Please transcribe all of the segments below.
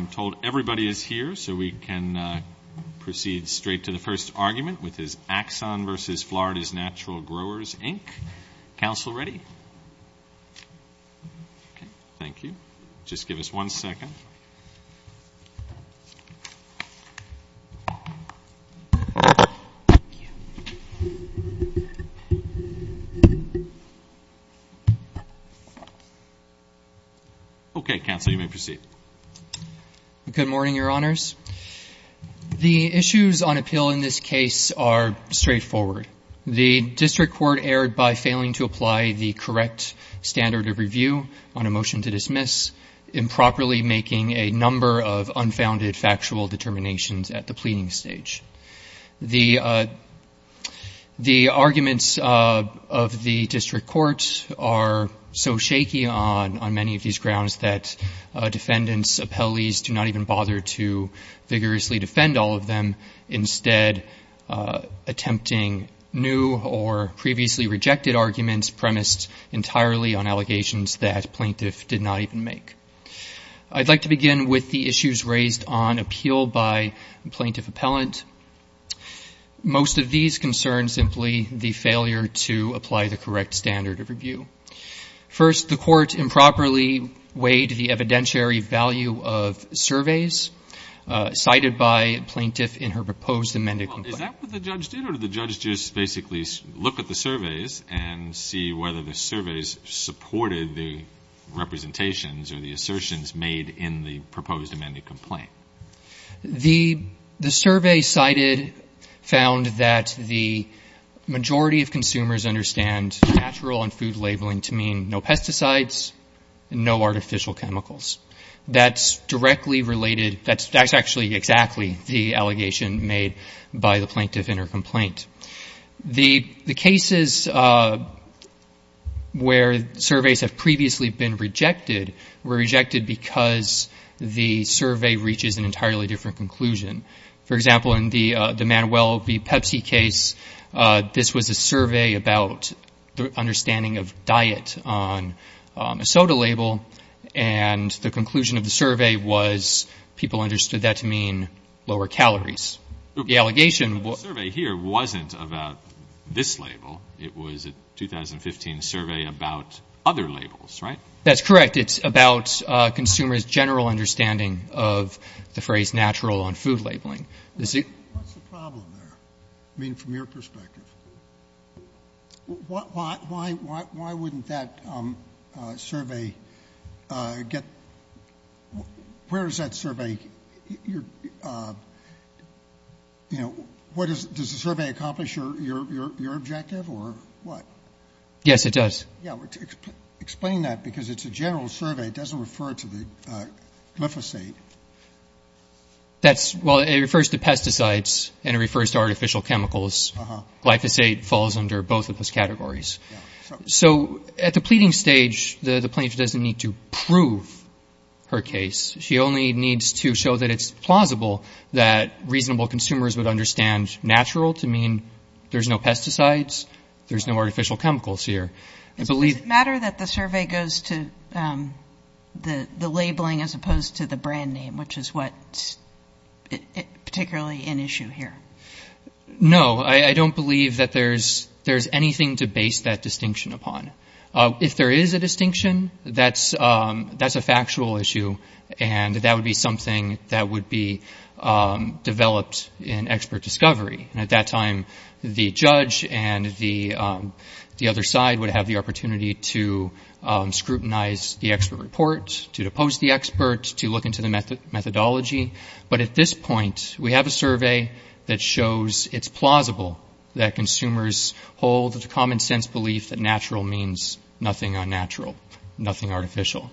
I'm told everybody is here, so we can proceed straight to the first argument, which is Axon v. Florida's Natural Growers, Inc. Council ready? Thank you. Just give us one second. Okay, Council, you may proceed. Good morning, Your Honors. The issues on appeal in this case are straightforward. The district court erred by failing to apply the correct standard of review on a motion to dismiss, improperly making a number of unfounded factual determinations at the pleading stage. The arguments of the district court are so shaky on many of these grounds that defendants, appellees, do not even bother to vigorously defend all of them, instead attempting new or previously rejected arguments premised entirely on allegations that plaintiff did not even make. I'd like to begin with the issues raised on appeal by plaintiff appellant. Most of these concern simply the failure to apply the correct standard of review. First, the court improperly weighed the evidentiary value of surveys cited by plaintiff in her proposed amended complaint. Is that what the judge did, or did the judge just basically look at the surveys and see whether the surveys supported the representations or the assertions made in the proposed amended complaint? The survey cited found that the majority of consumers understand natural and food labeling to mean no pesticides, no artificial chemicals. That's directly related, that's actually exactly the allegation made by the plaintiff in her complaint. The cases where surveys have previously been rejected were rejected because the survey reaches an entirely different conclusion. For example, in the Manuel v. Pepsi case, this was a survey about the understanding of diet on a soda label, and the conclusion of the survey was people understood that to mean lower calories. The allegation was... The survey here wasn't about this label. It was a 2015 survey about other labels, right? That's correct. It's about consumers' general understanding of the phrase natural on food labeling. What's the problem there? I mean, from your perspective. Why wouldn't that survey get... Where does that survey... Does the survey accomplish your objective, or what? Yes, it does. Explain that, because it's a general survey. It doesn't refer to the glyphosate. Well, it refers to pesticides, and it refers to artificial chemicals. Glyphosate falls under both of those categories. So at the pleading stage, the plaintiff doesn't need to prove her case. She only needs to show that it's plausible that reasonable consumers would understand natural to mean there's no pesticides, there's no artificial chemicals here. Does it matter that the survey goes to the labeling as opposed to the brand name, which is what's particularly an issue here? No, I don't believe that there's anything to base that distinction upon. If there is a distinction, that's a factual issue, and that would be something that would be developed in expert discovery. At that time, the judge and the other side would have the opportunity to scrutinize the expert report, to depose the expert, to look into the methodology. But at this point, we have a survey that shows it's plausible that consumers hold the common-sense belief that natural means nothing unnatural, nothing artificial.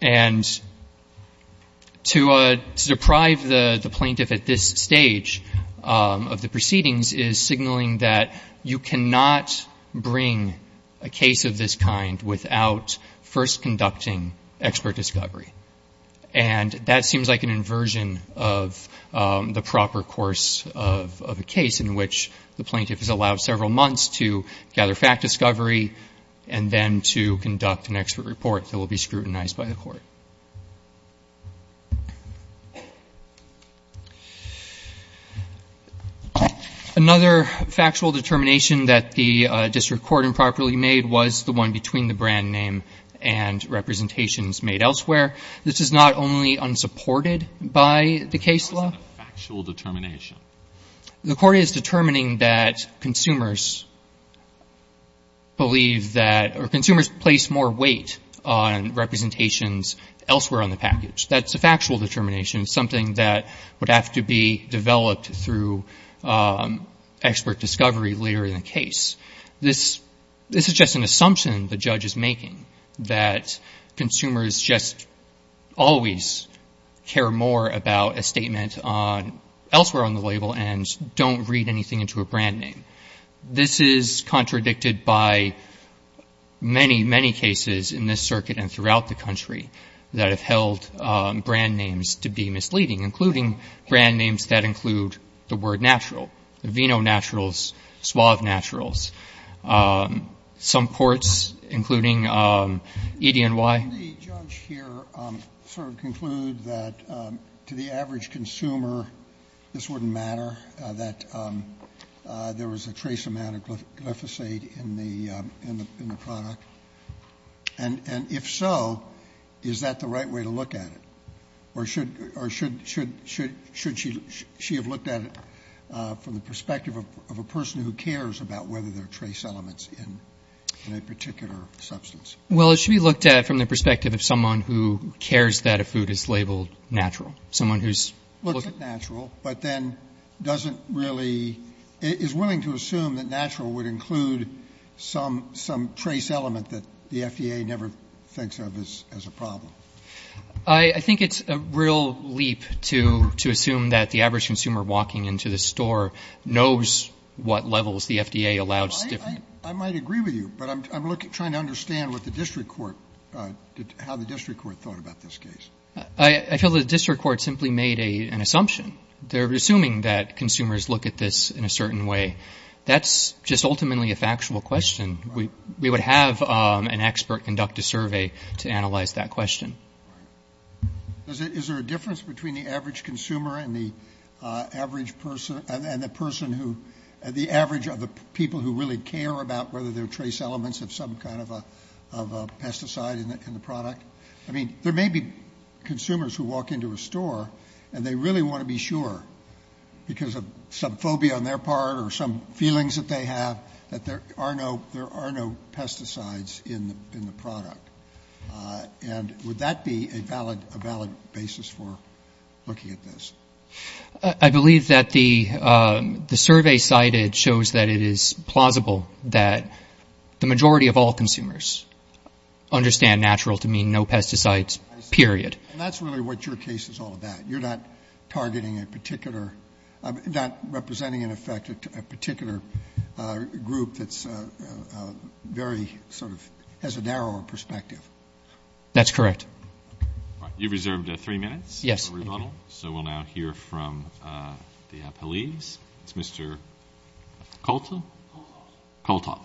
And to deprive the plaintiff at this stage of the proceedings is signaling that you cannot bring a case of this kind without first conducting expert discovery. And that seems like an inversion of the proper course of a case in which the plaintiff is allowed several months to gather fact discovery, and then to conduct an expert report that will be scrutinized by the court. Another factual determination that the district court improperly made was the one between the brand name and representations made elsewhere. This is not only unsupported by the case law. What is a factual determination? The court is determining that consumers place more weight on representations elsewhere on the package. That's a factual determination, something that would have to be developed through expert discovery later in the case. This is just an assumption the judge is making, that consumers just always care more about a statement elsewhere on the label and don't read anything into a brand name. This is contradicted by many, many cases in this circuit and throughout the country that have held brand names to be misleading, including brand names that include the word natural, the vino naturals, suave naturals. Some courts, including EDNY. Can the judge here sort of conclude that to the average consumer this wouldn't matter, that there was a trace amount of glyphosate in the product? And if so, is that the right way to look at it? Or should she have looked at it from the perspective of a person who cares about whether there are trace elements in a particular substance? Well, it should be looked at from the perspective of someone who cares that a food is labeled natural. Looks at natural, but then doesn't really, is willing to assume that natural would include some trace element that the FDA never thinks of as a problem. I think it's a real leap to assume that the average consumer walking into the store knows what levels the FDA allows. I might agree with you, but I'm trying to understand what the district court, how the district court thought about this case. I feel the district court simply made an assumption. They're assuming that consumers look at this in a certain way. That's just ultimately a factual question. We would have an expert conduct a survey to analyze that question. Is there a difference between the average consumer and the average person, and the person who, the average of the people who really care about whether there are trace elements of some kind of a pesticide in the product? I mean, there may be consumers who walk into a store, and they really want to be sure, because of some phobia on their part or some feelings that they have, that there are no pesticides in the product. And would that be a valid basis for looking at this? I believe that the survey cited shows that it is plausible that the majority of all consumers understand natural to mean no pesticides, period. And that's really what your case is all about. You're not targeting a particular, not representing, in effect, a particular group that's very sort of has a narrower perspective. That's correct. All right. You've reserved three minutes for rebuttal. Yes. So we'll now hear from the appellees. It's Mr. Kolthoff. Kolthoff.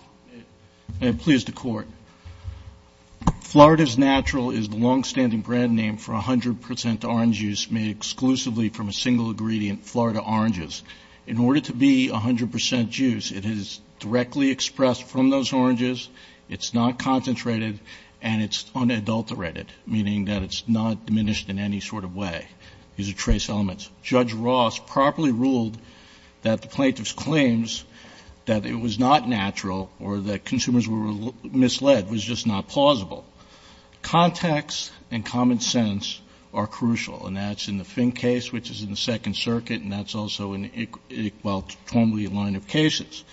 I'm pleased to court. Florida's Natural is the longstanding brand name for 100 percent orange juice made exclusively from a single ingredient, Florida oranges. In order to be 100 percent juice, it is directly expressed from those oranges. It's not concentrated. And it's unadulterated, meaning that it's not diminished in any sort of way. These are trace elements. Judge Ross properly ruled that the plaintiff's claims that it was not natural or that consumers were misled was just not plausible. Context and common sense are crucial. And that's in the Fink case, which is in the Second Circuit, and that's also in, well, normally a line of cases.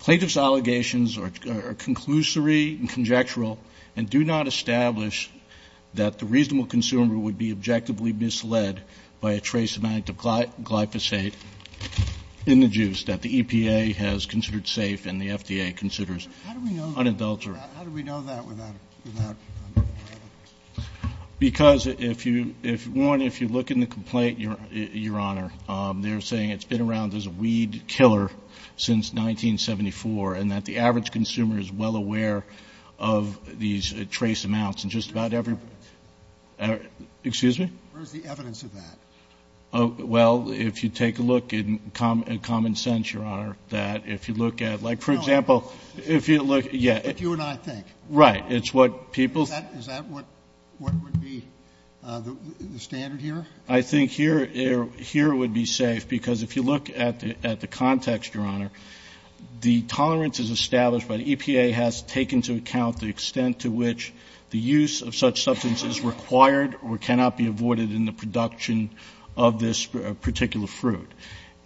Plaintiff's allegations are conclusory and conjectural and do not establish that the reasonable consumer would be objectively misled by a trace amount of glyphosate in the juice that the EPA has considered safe and the FDA considers unadulterated. How do we know that without evidence? Because, one, if you look in the complaint, Your Honor, they're saying it's been around as a weed killer since 1974, and that the average consumer is well aware of these trace amounts in just about every- Where's the evidence? Excuse me? Where's the evidence of that? Well, if you take a look in common sense, Your Honor, that if you look at, like, for example, if you look- But you and I think. Right. It's what people- Is that what would be the standard here? I think here it would be safe, because if you look at the context, Your Honor, the tolerance is established by the EPA has taken into account the extent to which the use of such substance is required or cannot be avoided in the production of this particular fruit.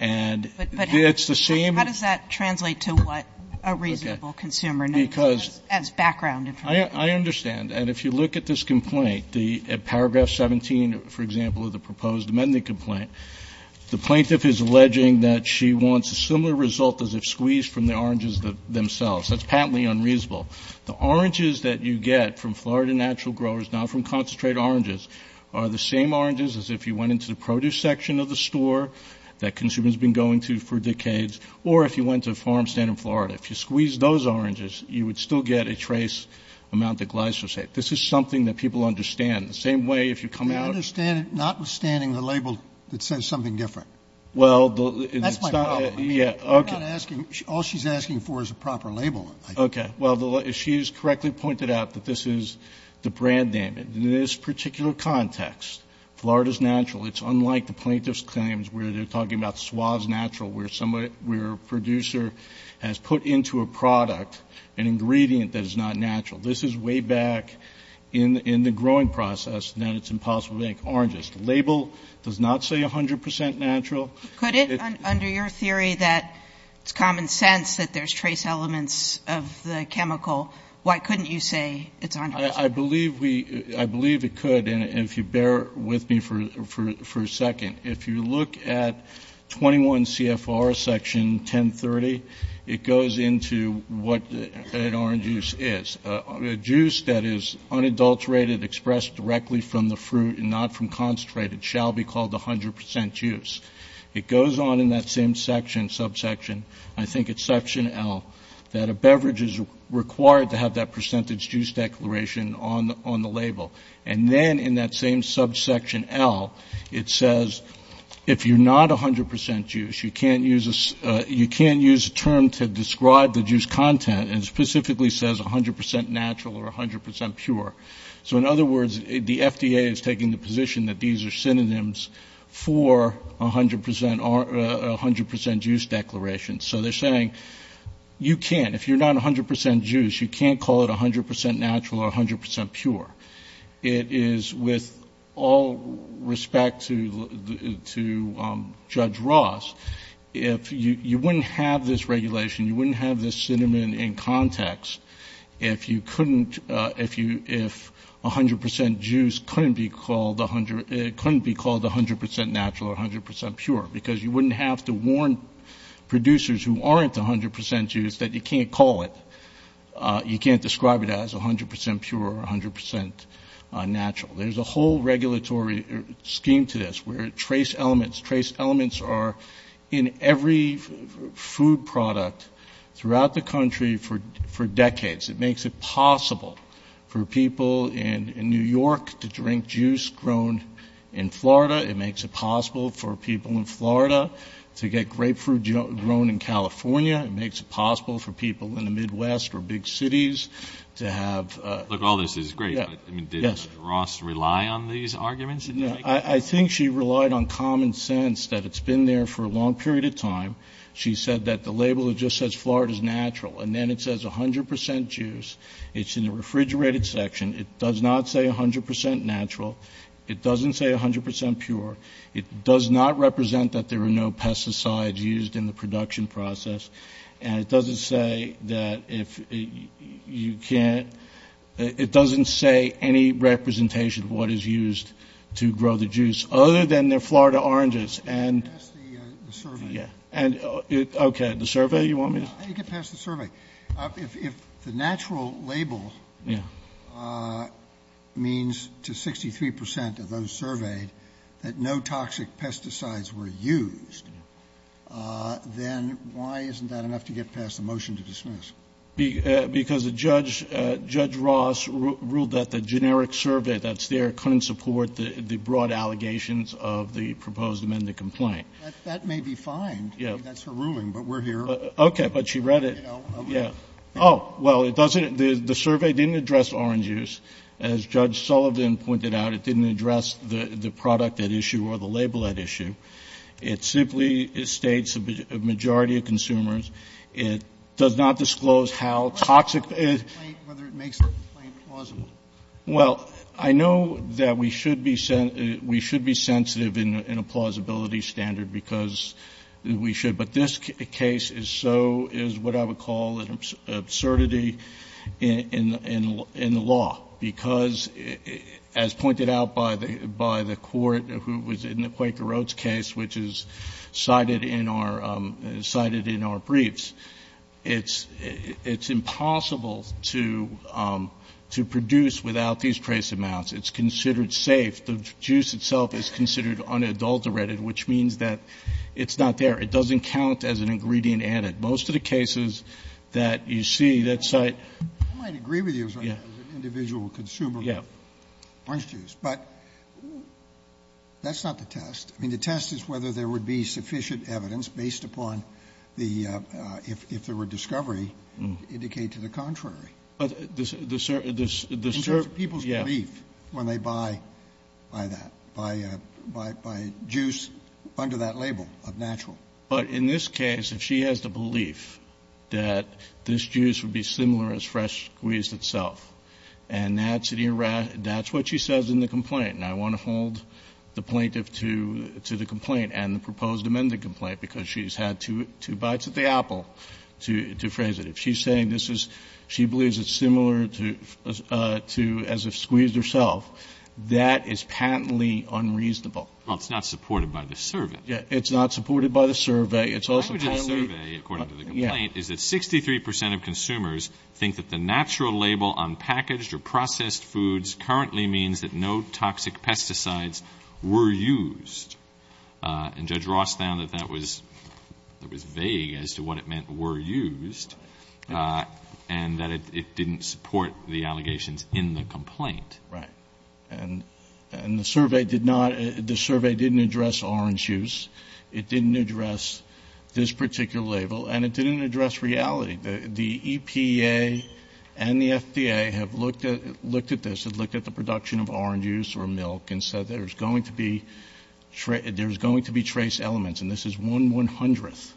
And it's the same- But how does that translate to what a reasonable consumer knows? Because- As background information. I understand. And if you look at this complaint, the paragraph 17, for example, of the proposed amending complaint, the plaintiff is alleging that she wants a similar result as if squeezed from the oranges themselves. That's patently unreasonable. The oranges that you get from Florida natural growers, not from concentrated oranges, are the same oranges as if you went into the produce section of the store that consumers have been going to for decades, or if you went to a farm stand in Florida. If you squeezed those oranges, you would still get a trace amount of glyphosate. This is something that people understand. The same way, if you come out- They understand it notwithstanding the label that says something different. That's my problem. I'm not asking- All she's asking for is a proper label, I think. Okay. Well, she has correctly pointed out that this is the brand name. In this particular context, Florida's natural, it's unlike the plaintiff's claims where they're talking about Suave's natural, where a producer has put into a product an ingredient that is not natural. This is way back in the growing process, and then it's impossible to make oranges. The label does not say 100 percent natural. Could it, under your theory that it's common sense that there's trace elements of the chemical, why couldn't you say it's 100 percent? I believe it could, and if you bear with me for a second, if you look at 21 CFR Section 1030, it goes into what an orange juice is. A juice that is unadulterated, expressed directly from the fruit, and not from concentrated, shall be called 100 percent juice. It goes on in that same section, subsection, I think it's Section L, that a beverage is required to have that percentage juice declaration on the label. And then in that same subsection L, it says if you're not 100 percent juice, you can't use a term to describe the juice content, and it specifically says 100 percent natural or 100 percent pure. So in other words, the FDA is taking the position that these are synonyms for 100 percent juice declaration. So they're saying you can't, if you're not 100 percent juice, you can't call it 100 percent natural or 100 percent pure. It is with all respect to Judge Ross, if you wouldn't have this regulation, you wouldn't have this sentiment in context, if 100 percent juice couldn't be called 100 percent natural or 100 percent pure, because you wouldn't have to warn producers who aren't 100 percent juice that you can't call it, you can't describe it as 100 percent pure or 100 percent natural. There's a whole regulatory scheme to this, where trace elements, trace elements are in every food product throughout the country for decades. It makes it possible for people in New York to drink juice grown in Florida. It makes it possible for people in Florida to get grapefruit grown in California. It makes it possible for people in the Midwest or big cities to have. Look, all this is great, but did Ross rely on these arguments? I think she relied on common sense, that it's been there for a long period of time. She said that the label that just says Florida's natural, and then it says 100 percent juice. It's in the refrigerated section. It does not say 100 percent natural. It doesn't say 100 percent pure. It does not represent that there are no pesticides used in the production process. And it doesn't say that if you can't. It doesn't say any representation of what is used to grow the juice, other than they're Florida oranges, and. You can pass the survey. Okay, the survey, you want me to? You can pass the survey. If the natural label means to 63 percent of those surveyed that no toxic pesticides were used, then why isn't that enough to get past the motion to dismiss? Because Judge Ross ruled that the generic survey that's there couldn't support the broad allegations of the proposed amended complaint. That may be fine. That's her ruling, but we're here. Okay, but she read it. Yeah. Oh, well, it doesn't. The survey didn't address orange juice. It simply states a majority of consumers. It does not disclose how toxic. Whether it makes the complaint plausible. Well, I know that we should be sensitive in a plausibility standard because we should. But this case is so, is what I would call an absurdity in the law. Because as pointed out by the court who was in the Quaker Oats case, which is cited in our briefs, it's impossible to produce without these trace amounts. It's considered safe. The juice itself is considered unadulterated, which means that it's not there. It doesn't count as an ingredient added. Most of the cases that you see that cite. I might agree with you as an individual consumer of orange juice. But that's not the test. I mean, the test is whether there would be sufficient evidence based upon the, if there were discovery, indicate to the contrary. In terms of people's belief when they buy that, buy juice under that label of natural. But in this case, if she has the belief that this juice would be similar as fresh squeezed itself, and that's what she says in the complaint, and I want to hold the plaintiff to the complaint and the proposed amended complaint because she's had two bites of the apple to phrase it. If she's saying this is, she believes it's similar to as if squeezed herself, that is patently unreasonable. Well, it's not supported by the servant. It's not supported by the survey. According to the complaint is that 63% of consumers think that the natural label on packaged or processed foods currently means that no toxic pesticides were used. And Judge Ross found that that was vague as to what it meant were used. And that it didn't support the allegations in the complaint. Right. And the survey did not, the survey didn't address orange juice. It didn't address this particular label. And it didn't address reality. The EPA and the FDA have looked at this. It looked at the production of orange juice or milk and said there's going to be trace elements. And this is one one-hundredth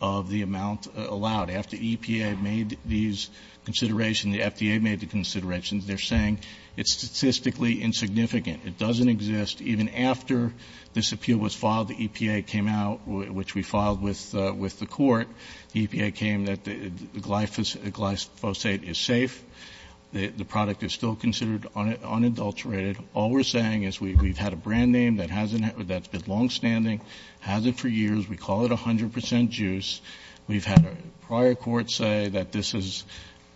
of the amount allowed. After EPA made these considerations, the FDA made the considerations, they're saying it's statistically insignificant. It doesn't exist. Even after this appeal was filed, the EPA came out, which we filed with the court. The EPA came that the glyphosate is safe. The product is still considered unadulterated. All we're saying is we've had a brand name that hasn't, that's been longstanding. Hasn't for years. We call it 100% juice. We've had prior courts say that this is.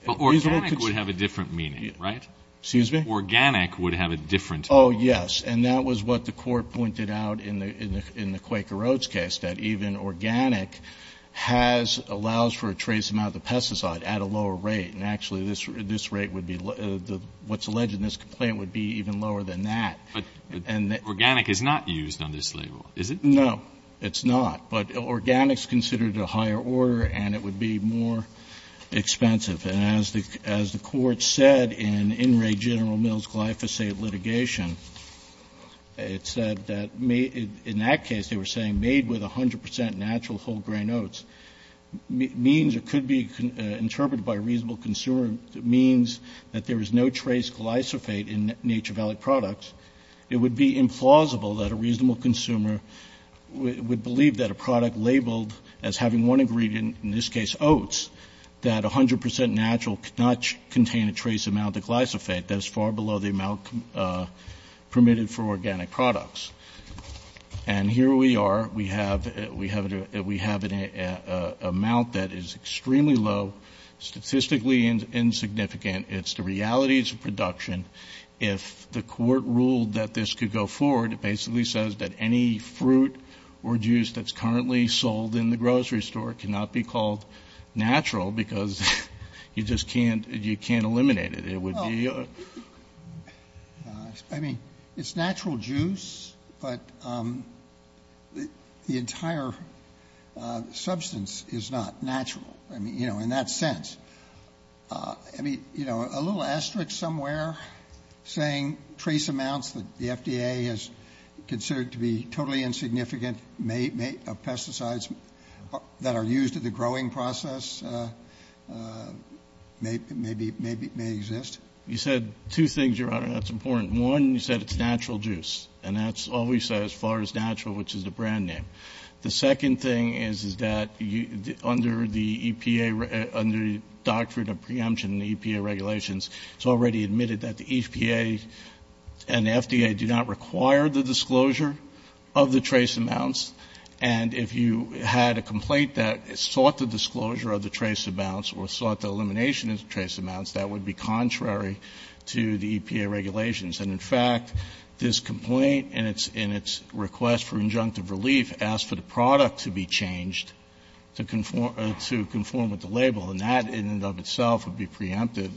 Organic would have a different meaning, right? Excuse me? Organic would have a different. Oh, yes. And that was what the court pointed out in the Quaker Oats case. That even organic has, allows for a trace amount of pesticide at a lower rate. And actually this rate would be, what's alleged in this complaint would be even lower than that. But organic is not used on this label, is it? No, it's not. But organic is considered a higher order and it would be more expensive. And as the court said in In Re General Mills glyphosate litigation, it said that in that case they were saying made with 100% natural whole grain oats means it could be interpreted by a reasonable consumer. It means that there is no trace glyphosate in Nature Valley products. It would be implausible that a reasonable consumer would believe that a product labeled as having one ingredient, in this case oats, that 100% natural could not contain a trace amount of glyphosate. That is far below the amount permitted for organic products. And here we are. We have an amount that is extremely low, statistically insignificant. It's the realities of production. If the court ruled that this could go forward, it basically says that any fruit or juice that's currently sold in the grocery store cannot be called natural because you just can't eliminate it. It would be... I mean, it's natural juice, but the entire substance is not natural. I mean, you know, in that sense. I mean, you know, a little asterisk somewhere saying trace amounts that the FDA has considered to be totally insignificant of pesticides that are used in the growing process may exist. You said two things, Your Honor, that's important. One, you said it's natural juice. And that's all we said as far as natural, which is the brand name. The second thing is that under the EPA, under the Doctrine of Preemption in the EPA regulations, it's already admitted that the EPA and the FDA do not require the disclosure of the trace amounts. And if you had a complaint that sought the disclosure of the trace amounts or sought the elimination of the trace amounts, that would be contrary to the EPA regulations. And, in fact, this complaint in its request for injunctive relief asked for the product to be changed to conform with the label. And that in and of itself would be preempted.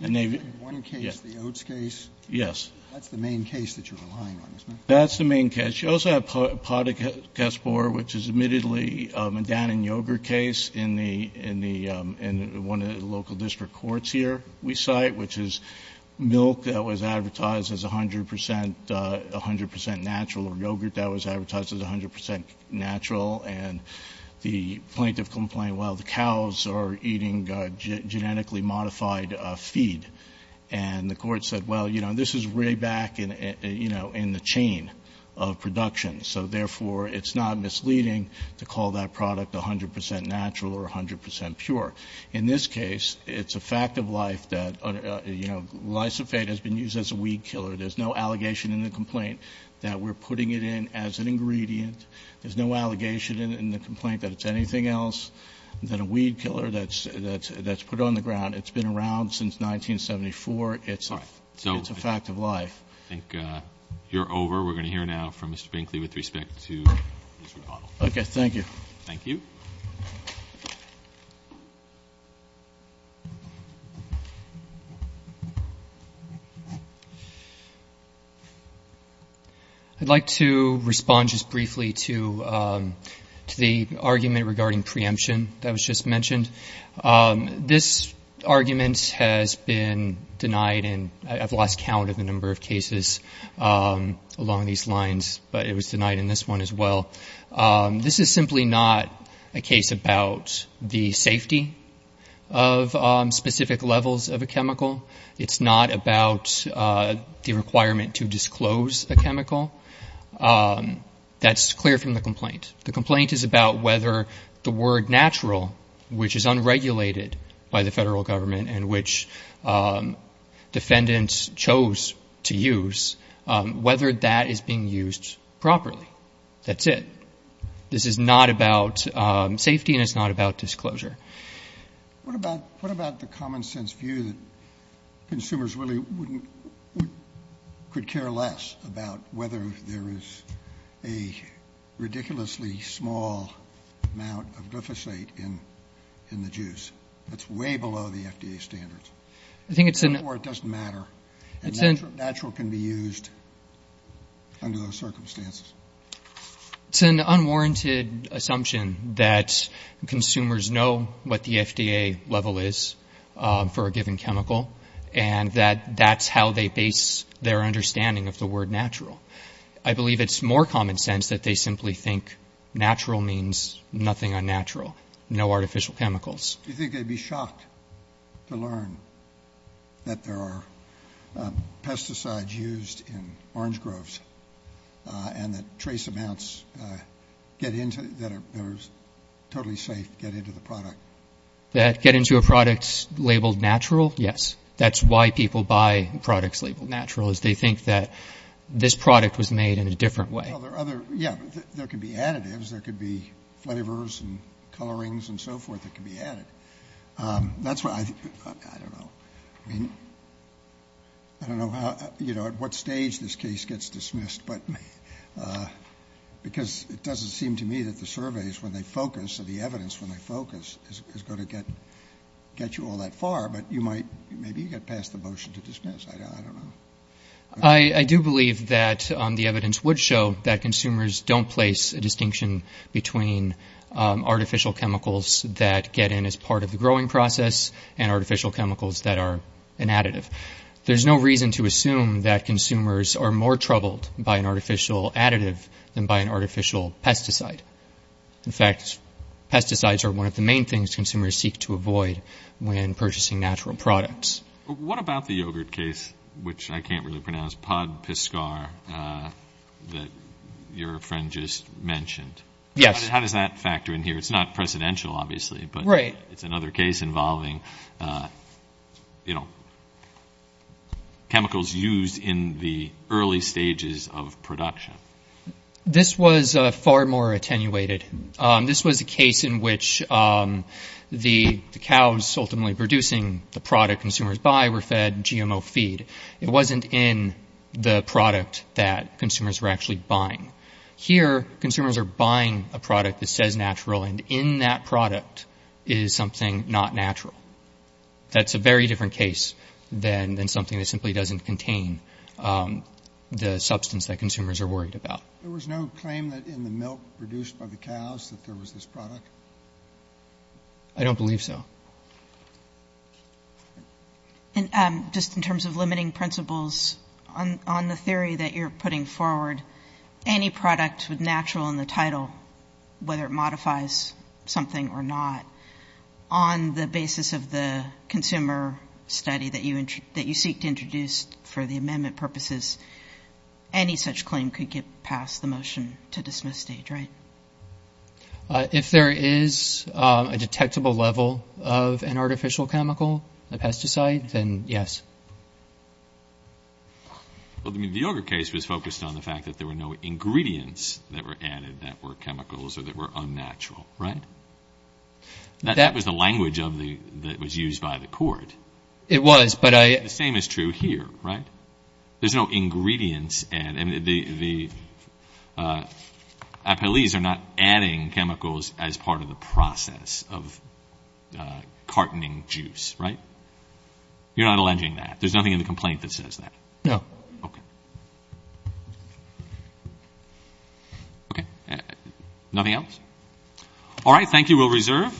And they've... Roberts. You're talking about one case, the oats case? Carvin. Yes. That's the main case that you're relying on, isn't it? Carvin. That's the main case. You also have podocaspor, which is admittedly a Dan and yogurt case in the one of the local district courts here we cite, which is milk that was advertised as 100% natural or yogurt that was advertised as 100% natural. And the plaintiff complained, well, the cows are eating genetically modified feed. And the court said, well, you know, this is way back in the chain of production. So, therefore, it's not misleading to call that product 100% natural or 100% pure. In this case, it's a fact of life that, you know, lysophate has been used as a weed killer. There's no allegation in the complaint that we're putting it in as an ingredient. There's no allegation in the complaint that it's anything else than a weed killer that's put on the ground. It's been around since 1974. It's a fact of life. I think you're over. We're going to hear now from Mr. Binkley with respect to his rebuttal. Okay. Thank you. I'd like to respond just briefly to the argument regarding preemption that was just mentioned. This argument has been denied, and I've lost count of the number of cases along these lines, but it was denied in this one as well. This is simply not a case about the safety of the product. It's not about the safety of specific levels of a chemical. It's not about the requirement to disclose a chemical. That's clear from the complaint. The complaint is about whether the word natural, which is unregulated by the federal government, and which defendants chose to use, whether that is being used properly. That's it. This is not about safety, and it's not about disclosure. What about the common-sense view that consumers really could care less about whether there is a ridiculously small amount of glyphosate in the juice? That's way below the FDA standards. Therefore, it doesn't matter. Natural can be used under those circumstances. It's an unwarranted assumption that consumers know what the FDA level is for a given chemical, and that that's how they base their understanding of the word natural. I believe it's more common sense that they simply think natural means nothing unnatural, no artificial chemicals. Do you think they'd be shocked to learn that there are pesticides used in orange groves, and that trace amounts get into, that it's totally safe to get into the product? That get into a product labeled natural? Yes. That's why people buy products labeled natural, is they think that this product was made in a different way. Yeah, there could be additives. There could be flavors and colorings and so forth that could be added. That's why, I don't know. I mean, I don't know how, you know, at what stage this case gets dismissed, but because it doesn't seem to me that the surveys, when they focus, or the evidence, when they focus, is going to get you all that far, but you might, maybe you get past the motion to dismiss. I don't know. I do believe that the evidence would show that consumers don't place a distinction between artificial chemicals that get in as part of the growing process, and artificial chemicals that are an additive. There's no reason to assume that consumers are more troubled by an artificial additive than by an artificial pesticide. In fact, pesticides are one of the main things consumers seek to avoid when purchasing natural products. What about the yogurt case, which I can't really pronounce, Podpiskar, that your friend just mentioned? Yes. How does that factor in here? It's not precedential, obviously, but it's another case involving, you know, chemicals used in the early stages of production. This was far more attenuated. This was a case in which the cows ultimately producing the product consumers buy were fed GMO feed. It wasn't in the product that consumers were actually buying. Here, consumers are buying a product that says natural, and in that product is something not natural. That's a very different case than something that simply doesn't contain the substance that consumers are worried about. There was no claim that in the milk produced by the cows that there was this product? I don't believe so. Just in terms of limiting principles, on the theory that you're putting forward, any product with natural in the title, whether it modifies something or not, on the basis of the consumer study that you seek to introduce for the amendment purposes, any such claim could get past the motion to dismiss stage, right? If there is a detectable level of an artificial chemical, a pesticide, then yes. Well, the yogurt case was focused on the fact that there were no ingredients that were added that were chemicals or that were unnatural, right? That was the language that was used by the court. It was, but I... The same is true here, right? There's no ingredients, and the appellees are not adding chemicals as part of the process of cartoning juice, right? You're not alleging that? There's nothing in the complaint that says that? No. Okay. Okay. Nothing else? All right, thank you. We'll reserve.